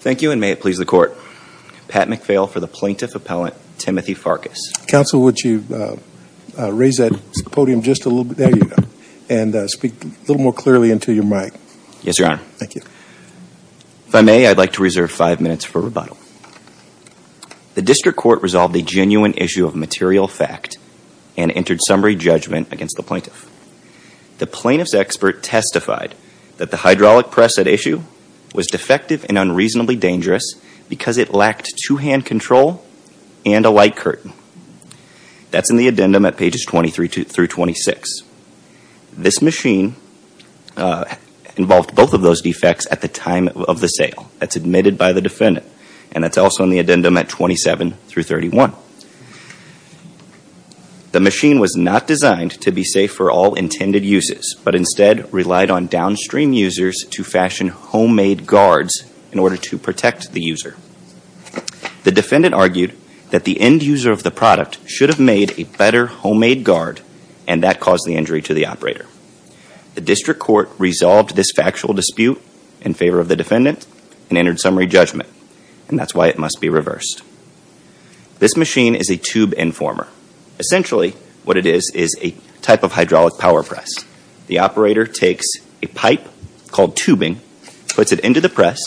Thank you, and may it please the Court. Pat McPhail for the Plaintiff Appellant, Timothy Farkas. Counsel, would you raise that podium just a little bit? There you go. And speak a little more clearly into your mic. Yes, Your Honor. Thank you. The District Court resolved a genuine issue of material fact and entered summary judgment against the Plaintiff. The Plaintiff's expert testified that the hydraulic press at issue was defective and unreasonably dangerous because it lacked two-hand control and a light curtain. That's in the addendum at pages 23 through 26. This machine involved both of those defects at the time of the sale. That's admitted by the defendant. And that's also in the addendum at 27 through 31. The machine was not designed to be safe for all intended uses, but instead relied on downstream users to fashion homemade guards in order to protect the user. The defendant argued that the end user of the product should have made a better homemade guard, and that caused the injury to the operator. The District Court resolved this factual dispute in favor of the defendant and entered summary judgment. And that's why it must be reversed. This machine is a tube informer. Essentially, what it is is a type of hydraulic power press. The operator takes a pipe called tubing, puts it into the press,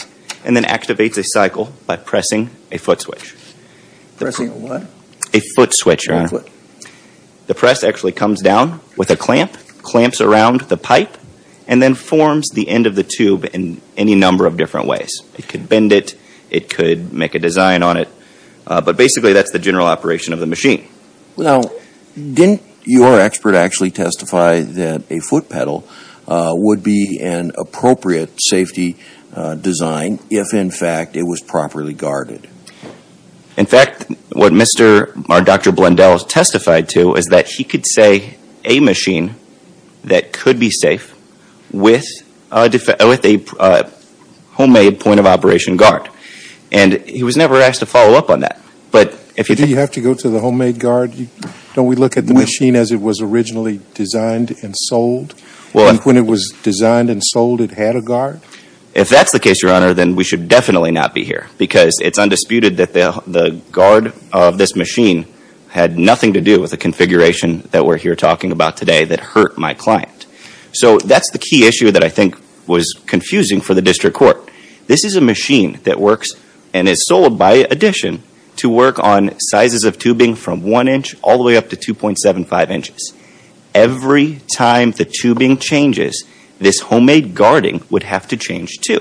and then activates a cycle by pressing a foot switch. A foot switch, Your Honor. What? The press actually comes down with a clamp, clamps around the pipe, and then forms the end of the tube in any number of different ways. It could bend it. It could make a design on it. But basically, that's the general operation of the machine. Now, didn't your expert actually testify that a foot pedal would be an appropriate safety design if, in fact, it was properly guarded? In fact, what Mr. or Dr. Blundell testified to is that he could say a machine that could be safe with a homemade point-of-operation guard. And he was never asked to follow up on that. But if you Do you have to go to the homemade guard? Don't we look at the machine as it was originally designed and sold? And when it was designed and sold, it had a guard? If that's the case, Your Honor, then we should definitely not be here because it's undisputed that the guard of this machine had nothing to do with the configuration that we're here talking about today that hurt my client. So that's the key issue that I think was confusing for the district court. This is a machine that works and is sold by addition to work on sizes of tubing from 1 inch all the way up to 2.75 inches. Every time the tubing changes, this homemade guarding would have to change too.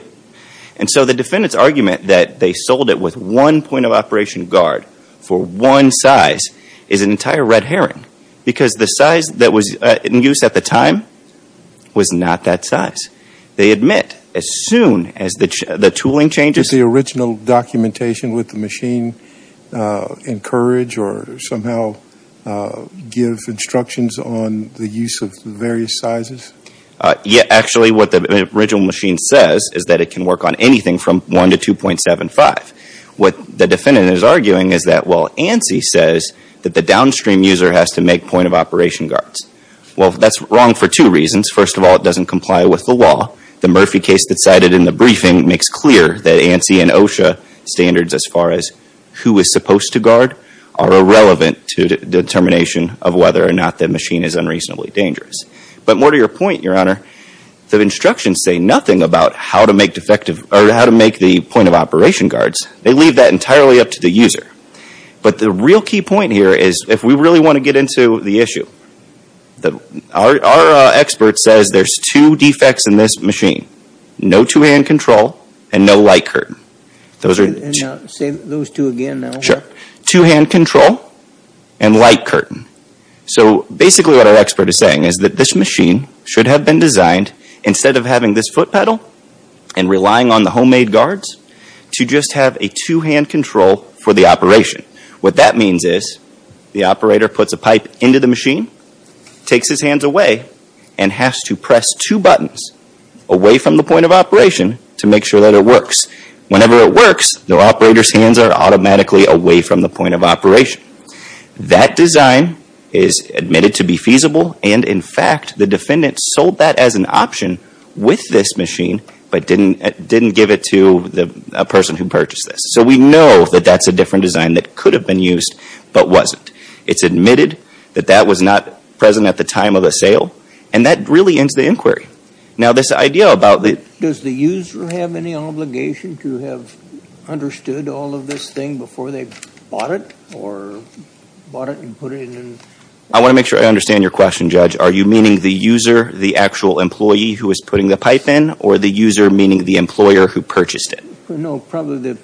And so the defendant's argument that they sold it with one point-of-operation guard for one size is an entire red herring because the size that was in use at the time was not that size. They admit as soon as the tooling changes Did the original documentation with the machine encourage or somehow give instructions on the use of various sizes? Actually, what the original machine says is that it can work on anything from 1 to 2.75. What the defendant is arguing is that well, ANSI says that the downstream user has to make point-of-operation guards. Well, that's wrong for two reasons. First of all, it doesn't comply with the law. The Murphy case that's cited in the briefing makes clear that ANSI and OSHA standards as far as who is supposed to guard are irrelevant to the determination of whether or not the machine is unreasonably dangerous. But more to your point, Your Honor, the instructions say nothing about how to make the point-of-operation guards. They leave that entirely up to the user. But the real key point here is if we really want to get into the issue, our expert says there's two defects in this machine. No two-hand control and no light curtain. Say those two again. Two-hand control and light curtain. So basically what our expert is saying is that this machine should have been designed, instead of having this foot pedal and relying on the homemade guards, to just have a two-hand control for the operation. What that means is the operator puts a pipe into the machine, takes his hands away, and has to press two buttons away from the point of operation to make sure that it works. Whenever it works, the operator's hands are automatically away from the point of operation. That design is admitted to be feasible, and in fact, the defendant sold that as an option with this machine, but didn't give it to a person who purchased this. So we know that that's a different design that could have been used but wasn't. It's admitted that that was not present at the time of the sale, and that really ends the inquiry. Now this idea about the... Does the user have any obligation to have understood all of this thing before they bought it or bought it and put it in? I want to make sure I understand your question, Judge. Are you meaning the user, the actual employee who was putting the pipe in, or the user, meaning the employer, who purchased it? No, probably the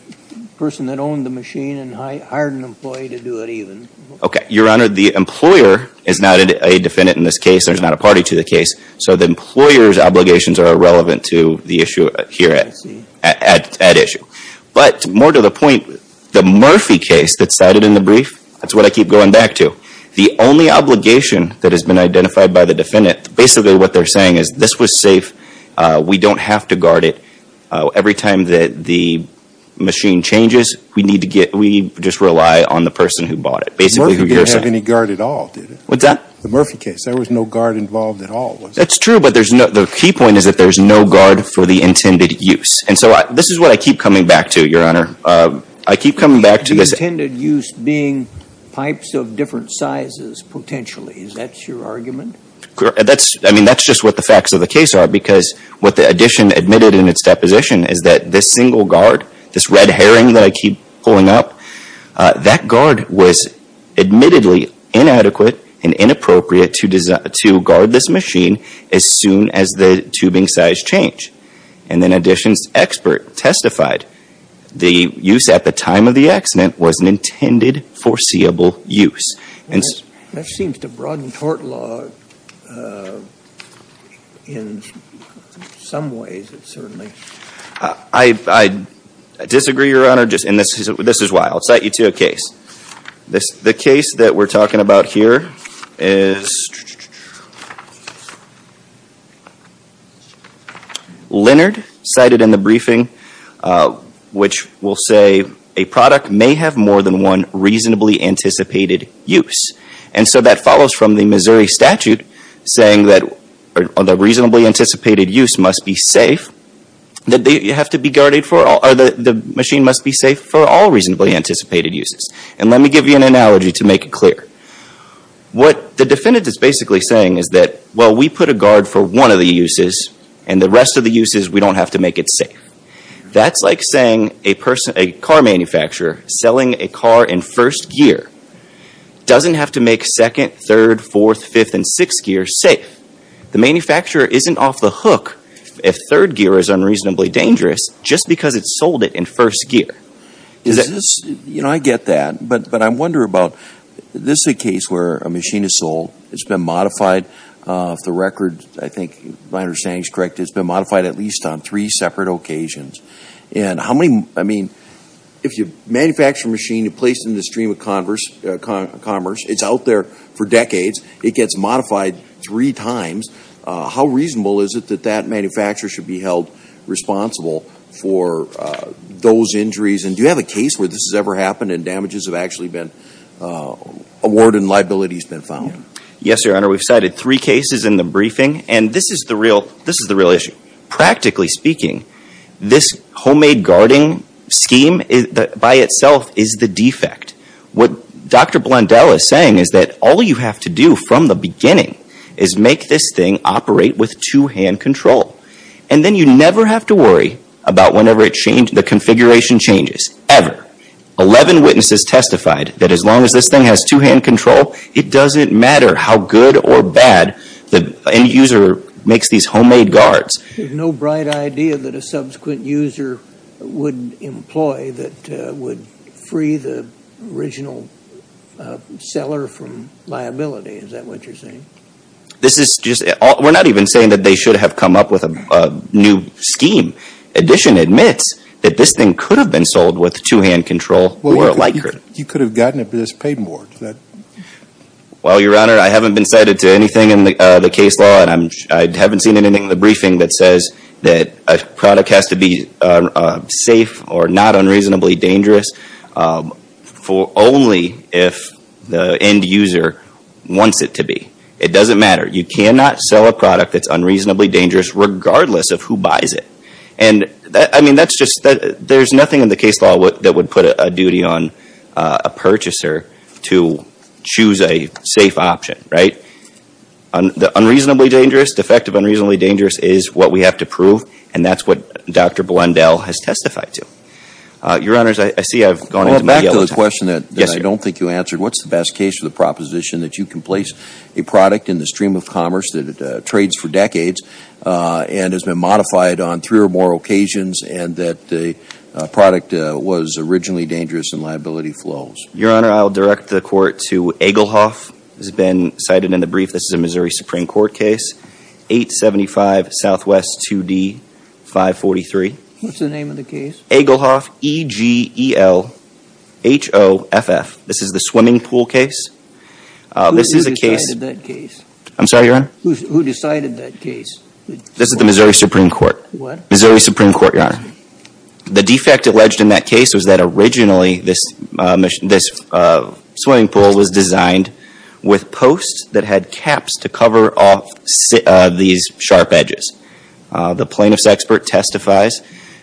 person that owned the machine and hired an employee to do it, even. Okay. Your Honor, the employer is not a defendant in this case. There's not a party to the case. So the employer's obligations are irrelevant to the issue here at issue. But more to the point, the Murphy case that's cited in the brief, that's what I keep going back to. The only obligation that has been identified by the defendant, basically what they're saying is this was safe. We don't have to guard it. Every time that the machine changes, we need to get, we just rely on the person who bought it, basically who you're saying... Murphy didn't have any guard at all, did he? What's that? The Murphy case. There was no guard involved at all, was there? That's true, but there's no, the key point is that there's no guard for the intended use. And so this is what I keep coming back to, Your Honor. I keep coming back to this... The intended use being pipes of different sizes, potentially. Is that your argument? That's, I mean, that's just what the facts of the case are, because what the addition admitted in its deposition is that this single guard, this red herring that I keep pulling up, that guard was admittedly inadequate and inappropriate to guard this machine as soon as the tubing size changed. And then addition's expert testified the use at the time of the accident was an intended foreseeable use. That seems to broaden tort law in some ways, certainly. I disagree, Your Honor, and this is why. I'll cite you to a case. The case that we're talking about here is Leonard cited in the briefing, which will say a product may have more than one reasonably anticipated use. And so that follows from the Missouri statute saying that the machine must be safe for all reasonably anticipated uses. And let me give you an analogy to make it clear. What the defendant is basically saying is that, well, we put a guard for one of the uses, and the rest of the uses we don't have to make it safe. That's like saying a car manufacturer selling a car in first gear doesn't have to make second, third, fourth, fifth, and sixth gear safe. The manufacturer isn't off the hook if third gear is unreasonably dangerous just because it sold it in first gear. You know, I get that. But I wonder about, this is a case where a machine is sold, it's been modified, if the record, I think my understanding is correct, it's been modified at least on three separate occasions. And how many, I mean, if you manufacture a machine, you place it in the stream of commerce, it's out there for decades, it gets modified three times, how reasonable is it that that manufacturer should be held responsible for those injuries? And do you have a case where this has ever happened and damages have actually been, award and liability has been found? Yes, Your Honor. We've cited three cases in the briefing. And this is the real issue. Practically speaking, this homemade guarding scheme by itself is the defect. What Dr. Blondell is saying is that all you have to do from the beginning is make this thing operate with two-hand control. And then you never have to worry about whenever the configuration changes, ever. Eleven witnesses testified that as long as this thing has two-hand control, it doesn't matter how good or bad the end user makes these homemade guards. There's no bright idea that a subsequent user would employ that would free the original seller from liability, is that what you're saying? This is just, we're not even saying that they should have come up with a new scheme. Addition admits that this thing could have been sold with two-hand control or a Likert. You could have gotten it but it's paid more, is that? Well, Your Honor, I haven't been cited to anything in the case law and I haven't seen anything in the briefing that says that a product has to be safe or not unreasonably dangerous only if the end user wants it to be. It doesn't matter. You cannot sell a product that's unreasonably dangerous regardless of who buys it. And I mean, that's just, there's not a duty on a purchaser to choose a safe option, right? Unreasonably dangerous, defective unreasonably dangerous is what we have to prove and that's what Dr. Blundell has testified to. Your Honors, I see I've gone into my yellow time. Well, back to the question that I don't think you answered. What's the best case for the proposition that you can place a product in the stream of commerce that trades for decades and has been modified on three or more occasions and that the product was originally dangerous and liability flows? Your Honor, I'll direct the court to Egelhoff. This has been cited in the brief. This is a Missouri Supreme Court case, 875 Southwest 2D, 543. What's the name of the case? Egelhoff, E-G-E-L-H-O-F-F. This is the swimming pool case. Who decided that case? I'm sorry, Your Honor? Who decided that case? This is the Missouri Supreme Court. What? Missouri Supreme Court, Your Honor. The defect alleged in that case was that originally this swimming pool was designed with posts that had caps to cover off these sharp edges. The plaintiff's expert testifies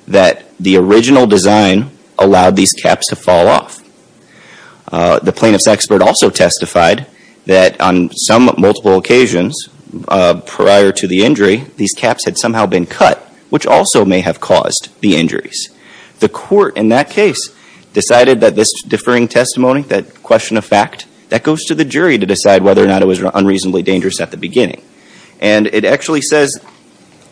that the plaintiff testified that on some multiple occasions prior to the injury, these caps had somehow been cut, which also may have caused the injuries. The court in that case decided that this differing testimony, that question of fact, that goes to the jury to decide whether or not it was unreasonably dangerous at the beginning. And it actually says,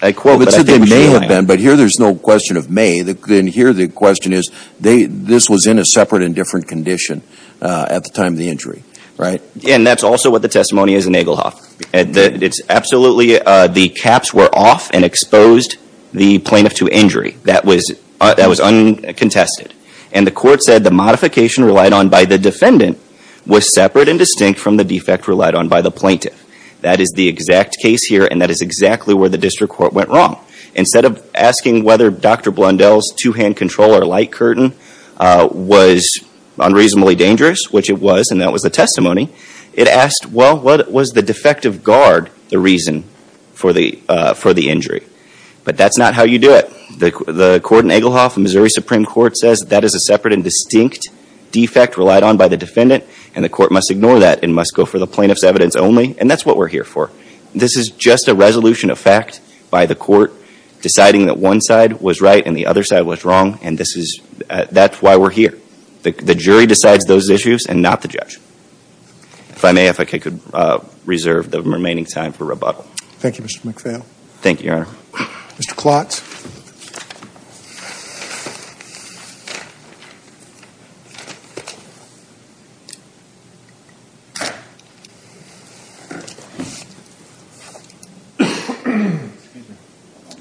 I quote, but I think it was you, Your Honor. But here there's no question of may. Then here the question is, this was in a separate and different condition at the time of the injury, right? And that's also what the testimony is in Egelhoff. It's absolutely, the caps were off and exposed the plaintiff to injury. That was uncontested. And the court said the modification relied on by the defendant was separate and distinct from the defect relied on by the plaintiff. That is the exact case here, and that is exactly where the district court went wrong. Instead of asking whether Dr. Blundell's two-hand control or light curtain was unreasonably dangerous, which it was, and that was the testimony, it asked, well, what was the defective guard the reason for the injury? But that's not how you do it. The court in Egelhoff, the Missouri Supreme Court, says that is a separate and distinct defect relied on by the defendant, and the court must ignore that and must go for the plaintiff's evidence only. And that's what we're here for. This is just a resolution of fact by the court deciding that one side was right and the other side was wrong, and this is, that's why we're here. The jury decides those issues and not the judge. If I may, if I could reserve the remaining time for rebuttal. Thank you, Mr. McPhail. Thank you, Your Honor. Mr. Klotz.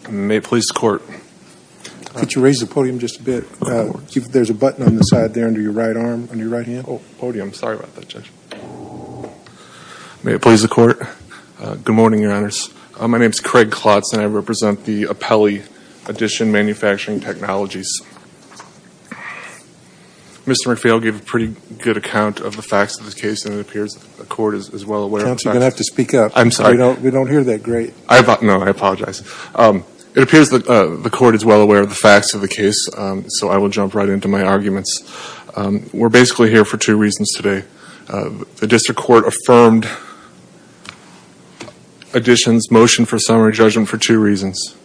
May it please the court. Could you raise the podium just a bit? There's a button on the side there under your right arm, on your right hand. Oh, podium. Sorry about that, Judge. May it please the court. Good morning, Your Honors. My name is Craig Klotz, and I represent the Apelli Edition Manufacturing Technologies. Mr. McPhail gave a pretty good account of the facts of this case, and it appears the court is well aware of the facts. Judge, you're going to have to speak up. I'm sorry. We don't hear that great. No, I apologize. It appears the court is well aware of the facts of the case, so I will jump right into my arguments. We're basically here for two reasons today. The district court affirmed addition's motion for summary judgment for two reasons.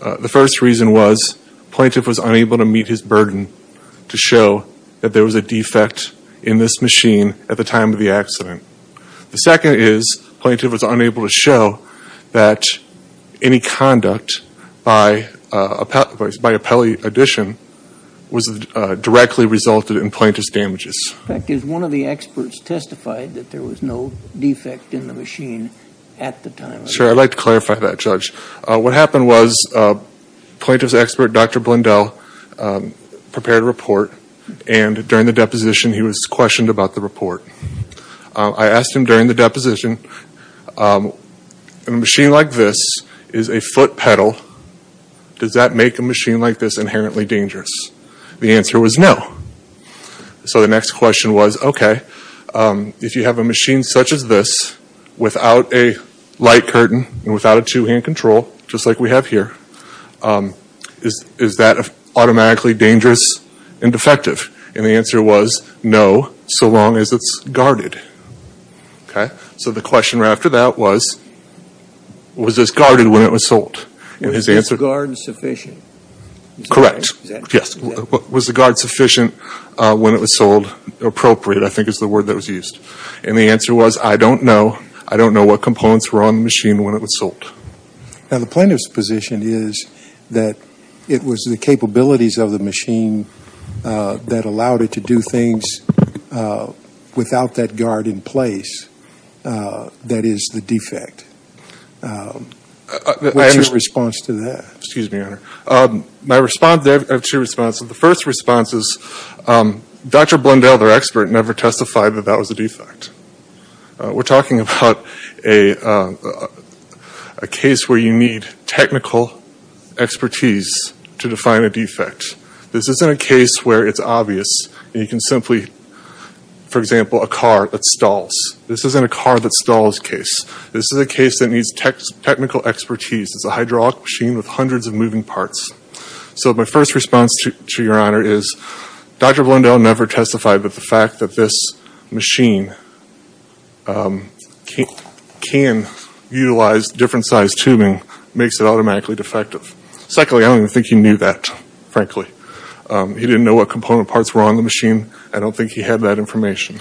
The first reason was plaintiff was unable to meet his burden to show that there was a defect in this machine at the time of the accident. The second is plaintiff was unable to show that any conduct by Apelli Edition was directly resulted in plaintiff's damages. In fact, is one of the experts testified that there was no defect in the machine at the time of the accident? Sure. I'd like to clarify that, Judge. What happened was plaintiff's expert, Dr. Blundell, prepared a report, and during the deposition, he was questioned about the report. I asked him during the deposition, a machine like this is a foot pedal. Does that make a machine like this inherently dangerous? The answer was no. So the next question was, okay, if you have a machine such as this, without a light curtain and without a two-hand control, just like we have here, is that automatically dangerous and defective? And the answer was no, so long as it's guarded. So the question right after that was, was this guarded when it was sold? Was this guard sufficient? Correct. Yes. Was the guard sufficient when it was sold? Appropriate, I think, is the word that was used. And the answer was, I don't know. I don't know what components were on the machine when it was sold. Now, the plaintiff's position is that it was the capabilities of the machine that allowed it to do things without that guard in place that is the defect. What's your response to that? Excuse me, Your Honor. My response, I have two responses. The first response is, Dr. Blundell, their expert, never testified that that was a defect. We're talking about a case where you need technical expertise to define a defect. This isn't a case where it's obvious and you can simply, for example, a car that stalls. This isn't a car that stalls case. This is a case that needs technical expertise. It's a hydraulic machine with hundreds of moving parts. So my first response to Your Honor is, Dr. Blundell never testified that the fact that this machine can utilize different sized tubing makes it automatically defective. Secondly, I don't even think he knew that, frankly. He didn't know what component parts were on the machine. I don't think he had that information.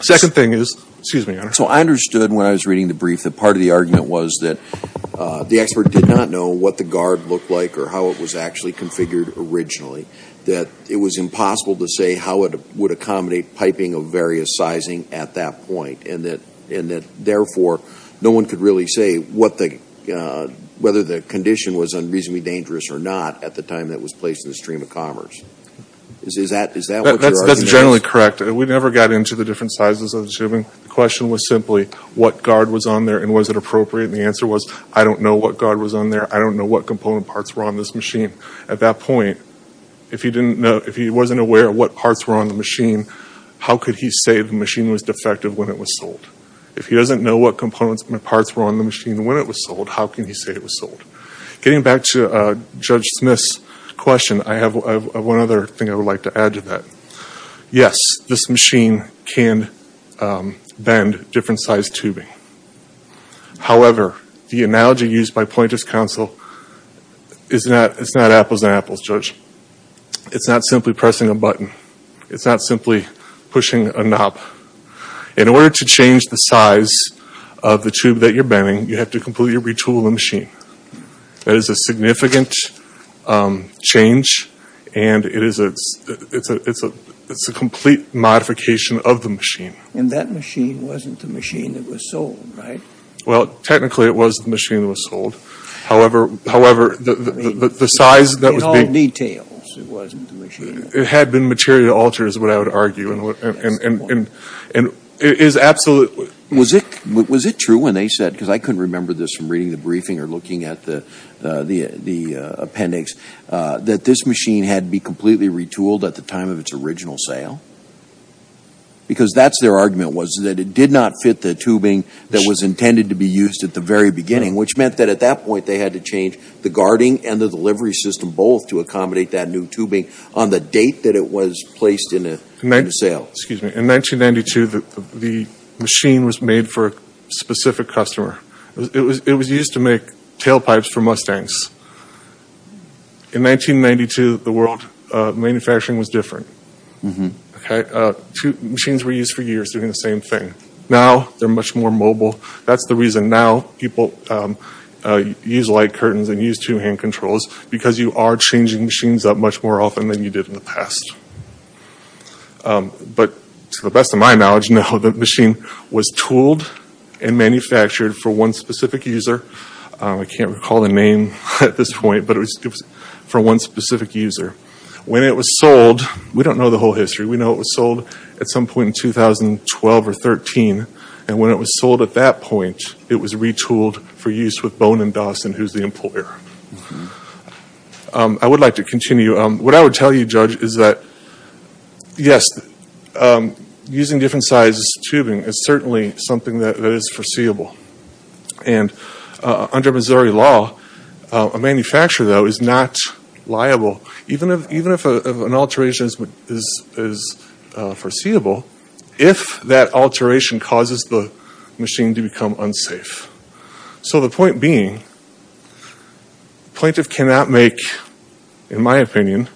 Second thing is, excuse me, Your Honor. So I understood when I was reading the brief that part of the argument was that the expert did not know what the guard looked like or how it was actually configured originally. That it was impossible to say how it would accommodate piping of various sizing at that point. And that, therefore, no one could really say what the, whether the condition was unreasonably dangerous or not at the time that it was placed in the stream of commerce. Is that what your argument is? That's correct. We never got into the different sizes of the tubing. The question was simply what guard was on there and was it appropriate? And the answer was, I don't know what guard was on there. I don't know what component parts were on this machine. At that point, if he didn't know, if he wasn't aware of what parts were on the machine, how could he say the machine was defective when it was sold? If he doesn't know what components and parts were on the machine when it was sold, how can he say it was sold? Getting back to Judge Smith's question, I have one other thing I would like to add to that. Yes, this machine can bend different sized tubing. However, the analogy used by Pointer's counsel is not apples and apples, Judge. It's not simply pressing a button. It's not simply pushing a knob. In order to change the size of the tube that you're bending, you have to completely retool the machine. That is a significant change and it's a complete modification of the machine. And that machine wasn't the machine that was sold, right? Well, technically, it was the machine that was sold. However, the size that was being In all details, it wasn't the machine that was sold. It had been material altered, is what I would argue, and it is absolutely Was it true when they said, because I couldn't remember this from reading the briefing or looking at the appendix, that this machine had to be completely retooled at the time of its original sale? Because that's their argument, was that it did not fit the tubing that was intended to be used at the very beginning, which meant that at that point, they had to change the guarding and the delivery system both to accommodate that new tubing on the date that it was placed in a new sale. In 1992, the machine was made for a specific customer. It was used to make tailpipes for Mustangs. In 1992, the world of manufacturing was different. Machines were used for years doing the same thing. Now, they're much more mobile. That's the reason now people use light curtains and use two-hand controls, because you are changing machines up much more often than you did in the past. But to the best of my knowledge, the machine was tooled and manufactured for one specific user. I can't recall the name at this point, but it was for one specific user. We don't know the whole history. We know it was sold at some point in 2012 or 2013. When it was sold at that point, it was retooled for use with Bone and Dawson, who's the employer. I would like to continue. What I would tell you, Judge, is that, yes, using different sizes of tubing is certainly something that is foreseeable. Under Missouri law, a manufacturer, though, is not liable, even if an alteration is foreseeable, if that alteration causes the machine to become unsafe. So the point being, the plaintiff cannot make, in my opinion,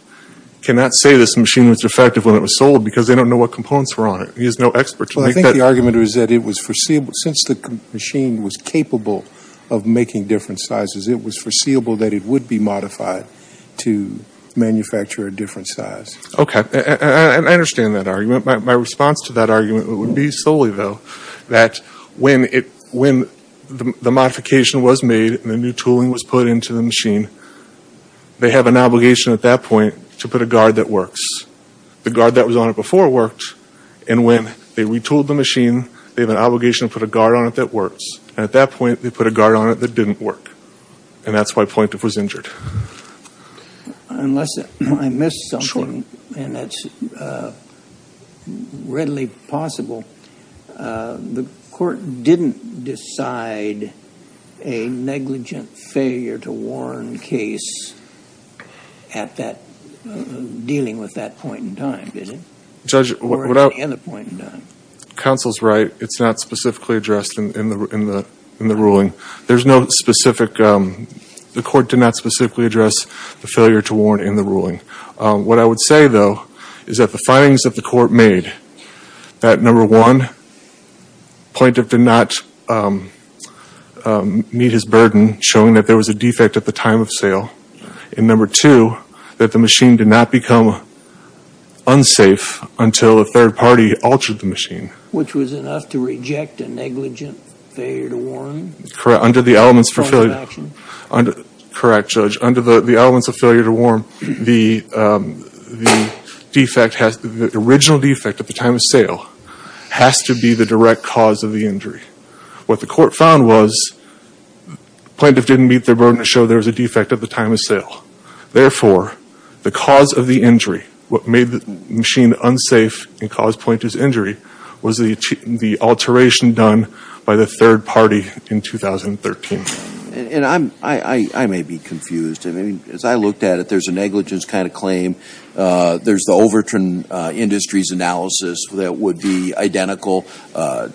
cannot say this machine was defective when it was sold because they don't know what components were on it. He is no expert to make that. Well, I think the argument is that it was foreseeable. Since the machine was capable of making different sizes, it was foreseeable that it would be modified to manufacture a different size. Okay. And I understand that argument. My response to that argument would be solely, though, that when the modification was made and the new tooling was put into the machine, they have an obligation at that point to put a guard that works. The guard that was on it before worked, and when they retooled the machine, they have an obligation to put a guard on it that works. And at that point, they put a guard on it that didn't work. And that's why the plaintiff was injured. Unless I missed something, and that's readily possible, the court didn't decide a negligent failure to warn case at that, dealing with that point in time, did it? Or at any other point in time? Judge, counsel's right. It's not specifically addressed in the ruling. There's no specific, the court did not specifically address the failure to warn in the ruling. What I would say, though, is that the findings of the court made that, number one, plaintiff did not meet his burden, showing that there was a defect at the time of sale. And number two, that the machine did not become unsafe until a third party altered the machine. Which was enough to reject a negligent failure to warn? Correct, under the elements of failure to warn, the original defect at the time of sale has to be the direct cause of the injury. What the court found was, plaintiff didn't meet their burden to show there was a defect at the time of sale. Therefore, the cause of the injury, what made the machine unsafe and caused plaintiff's injury, was the alteration done by the third party in 2013. And I may be confused. I mean, as I looked at it, there's a negligence kind of claim. There's the Overton Industries analysis that would be identical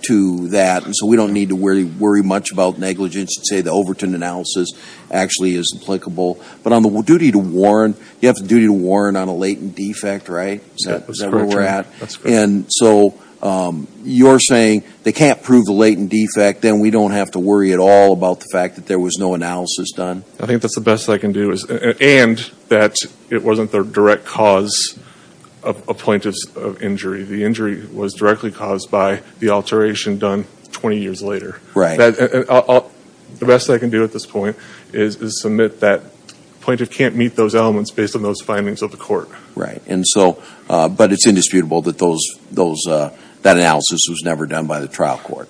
to that. And so we don't need to worry much about negligence and say the Overton analysis actually is applicable. But on the duty to warn, you have the duty to warn on a latent defect, right? Is that where we're at? That's correct. And so you're saying they can't prove the latent defect, then we don't have to worry at all about the fact that there was no analysis done? I think that's the best I can do. And that it wasn't the direct cause of a plaintiff's injury. The injury was directly caused by the alteration done 20 years later. Right. The best I can do at this point is submit that plaintiff can't meet those elements based on those findings of the court. Right. And so, but it's indisputable that those, that analysis was never done by the trial court.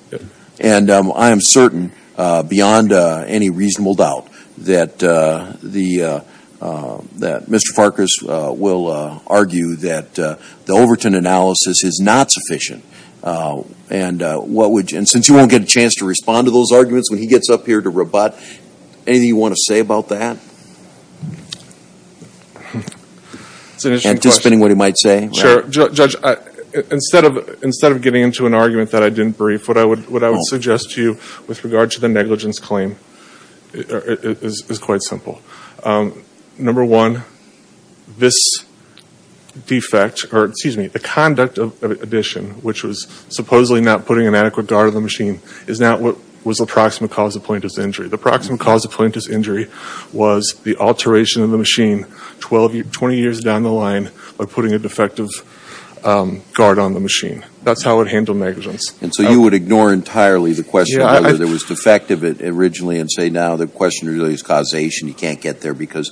And I am certain beyond any reasonable doubt that the, that Mr. Farkas will argue that the Overton analysis is not sufficient. And what would, and since you won't get a chance to respond to those arguments when he gets up here to rebut, anything you want to say about that? It's an interesting question. Anticipating what he might say? Sure. Judge, instead of, instead of getting into an argument that I didn't brief, what I would, what I would suggest to you with regard to the negligence claim is quite simple. Number one, this defect, or excuse me, the conduct of addition, which was supposedly not putting an adequate guard on the machine, is not what was the approximate cause of plaintiff's injury, was the alteration of the machine 12 years, 20 years down the line of putting a defective guard on the machine. That's how it handled negligence. And so you would ignore entirely the question whether there was defective originally and say now the question really is causation. You can't get there because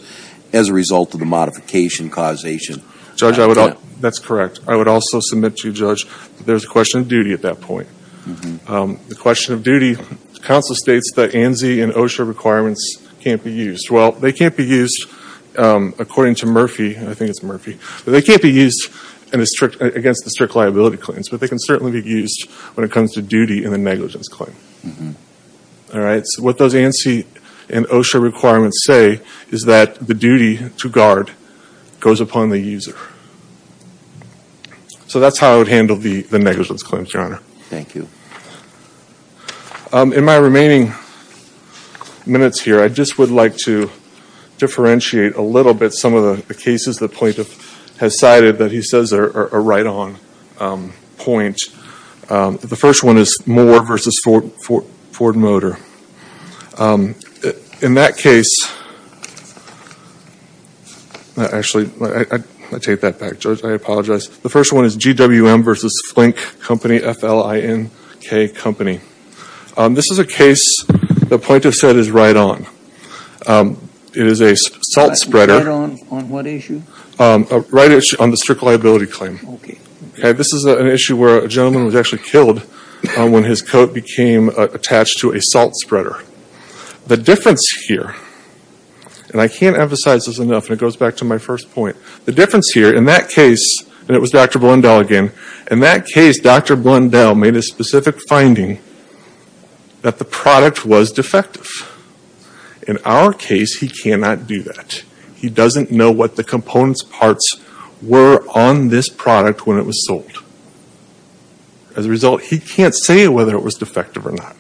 as a result of the modification causation. Judge, I would, that's correct. I would also submit to you, Judge, there's a question of duty at that point. The question of duty, the counsel states that ANSI and OSHA requirements can't be used. Well, they can't be used according to Murphy, and I think it's Murphy, but they can't be used against the strict liability claims, but they can certainly be used when it comes to duty in the negligence claim. All right? So what those ANSI and OSHA requirements say is that the duty to guard goes upon the user. So that's how I would handle the negligence claims, Your Honor. Thank you. In my remaining minutes here, I just would like to differentiate a little bit some of the cases the plaintiff has cited that he says are right on point. The first one is Moore v. Ford Motor. In that case, actually, I take that back, Judge. I apologize. The company, this is a case the plaintiff said is right on. It is a salt spreader. Right on what issue? Right issue on the strict liability claim. Okay. This is an issue where a gentleman was actually killed when his coat became attached to a salt spreader. The difference here, and I can't emphasize this enough, and it goes back to my first point. The difference here, in that case, and it was Dr. Blundell again, in that case, Dr. Blundell made a specific finding that the product was defective. In our case, he cannot do that. He doesn't know what the components parts were on this product when it was sold. As a result, he can't say whether it was defective or not.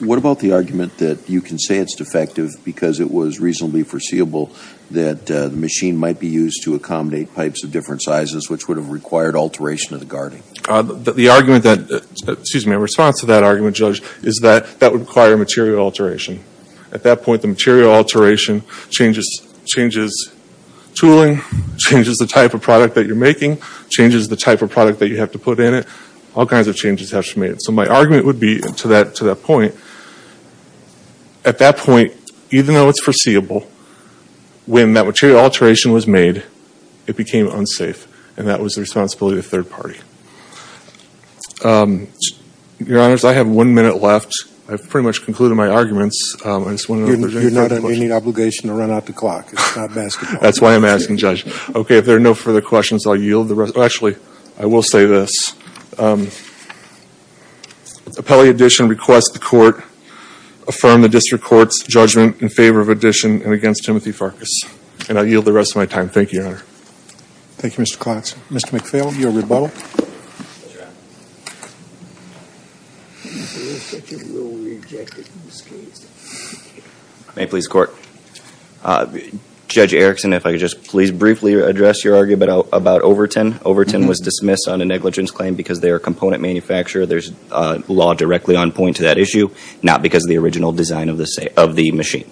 What about the argument that you can say it's defective because it was reasonably foreseeable that the machine might be used to accommodate pipes of different sizes, which would have required alteration of the guarding? The argument that, excuse me, response to that argument, Judge, is that that would require material alteration. At that point, the material alteration changes tooling, changes the type of product that you're making, changes the type of product that you have to put in it. All kinds of changes have to be made. My argument would be to that point, at that point, even though it's foreseeable, when that material alteration was made, it became unsafe. That was the responsibility of the third party. Your Honors, I have one minute left. I've pretty much concluded my arguments. I just wanted to... You're not under any obligation to run out the clock. It's not basketball. That's why I'm asking, Judge. Okay, if there are no further questions, I'll yield the rest... Actually, I will say this. Appellee addition requests the Court affirm the District Court's judgment in favor of addition and against Timothy Farkas. And I yield the rest of my time. Thank you, Your Honor. Thank you, Mr. Claxon. Mr. McPhail, your rebuttal. May it please the Court. Judge Erickson, if I could just please briefly address your argument about Overton. Overton was dismissed on a negligence claim because they are a component manufacturer. There's law directly on point to that issue, not because of the original design of the machine.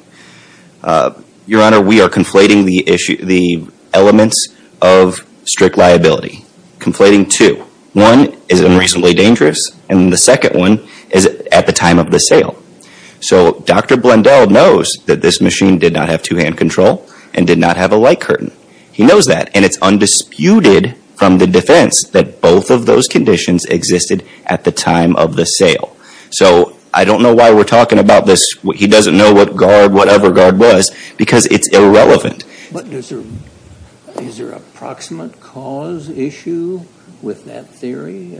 Your Honor, we are conflating the elements of strict liability. Conflating two. One is unreasonably dangerous, and the second one is at the time of the sale. So Dr. Blundell knows that this machine did not have two-hand control and did not have a light curtain. He knows that, and it's undisputed from the defense that both of those conditions existed at the time of the sale. So I don't know why we're talking about this. He doesn't know what guard, whatever guard was, because it's irrelevant. But is there a proximate cause issue with that theory?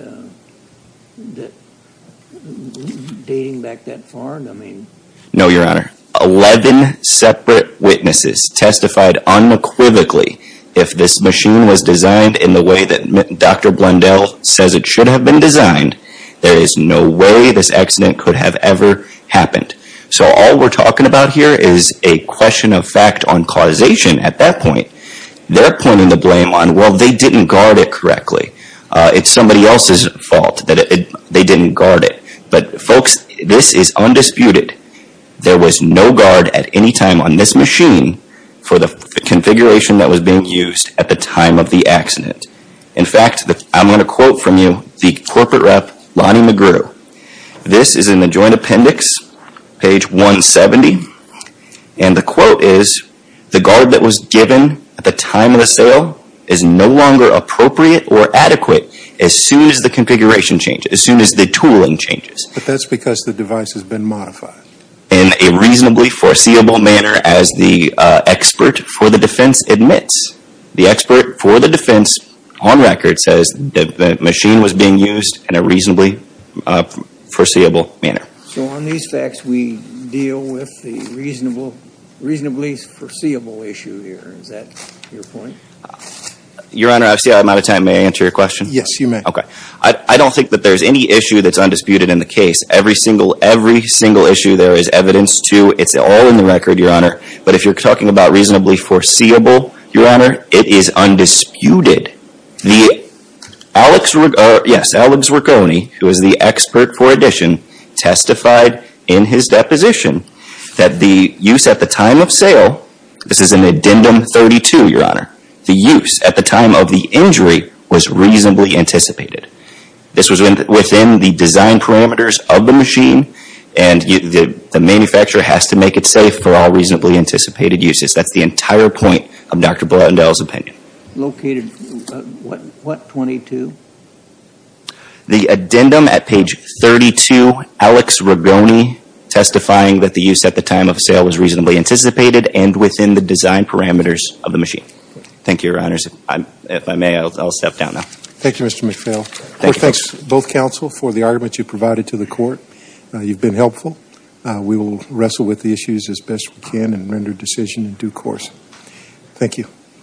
Dating back that far? No, Your Honor. Eleven separate witnesses testified unequivocally if this machine was designed in the way that Dr. Blundell says it should have been designed. There is no way this accident could have ever happened. So all we're talking about here is a question of fact on causation at that point. They're pointing the blame on, well, they didn't guard it correctly. It's somebody else's fault that they didn't guard it. But folks, this is undisputed. There was no guard at any time on this machine for the configuration that was being used at the time of the accident. In fact, I'm going to quote from you the corporate rep, Lonnie Magruder. This is in the joint appendix, page 170. And the quote is, the guard that was given at the time of the sale is no longer appropriate or adequate as soon as the configuration changes, as soon as the tooling changes. But that's because the device has been modified. In a reasonably foreseeable manner as the expert for the defense admits. The expert for the defense on record says that the machine was being used in a reasonably foreseeable manner. So on these facts, we deal with the reasonably foreseeable issue here. Is that your point? Your Honor, I see I'm out of time. May I answer your question? Yes, you may. Okay. I don't think that there's any issue that's undisputed in the case. Every single issue there is evidence to. It's all in the record, Your Honor. But if you're talking about reasonably foreseeable, Your Honor, it is undisputed. The, Alex, yes, Alex Rigoni, who is the expert for addition, testified in his deposition that the use at the time of sale, this is in addendum 32, Your Honor, the use at the time of the injury was reasonably anticipated. This was within the design parameters of the machine and the manufacturer has to make it safe for all reasonably anticipated uses. That's the entire point of Dr. Blutendell's opinion. Located, what, what 22? The addendum at page 32, Alex Rigoni testifying that the use at the time of sale was reasonably anticipated and within the design parameters of the machine. Thank you, Your Honors. If I may, I'll step down now. Thank you, Mr. McPhail. Thanks both counsel for the argument you provided to the court. You've been helpful. We will wrestle with the issues as best we can and render decision in due course. Thank you.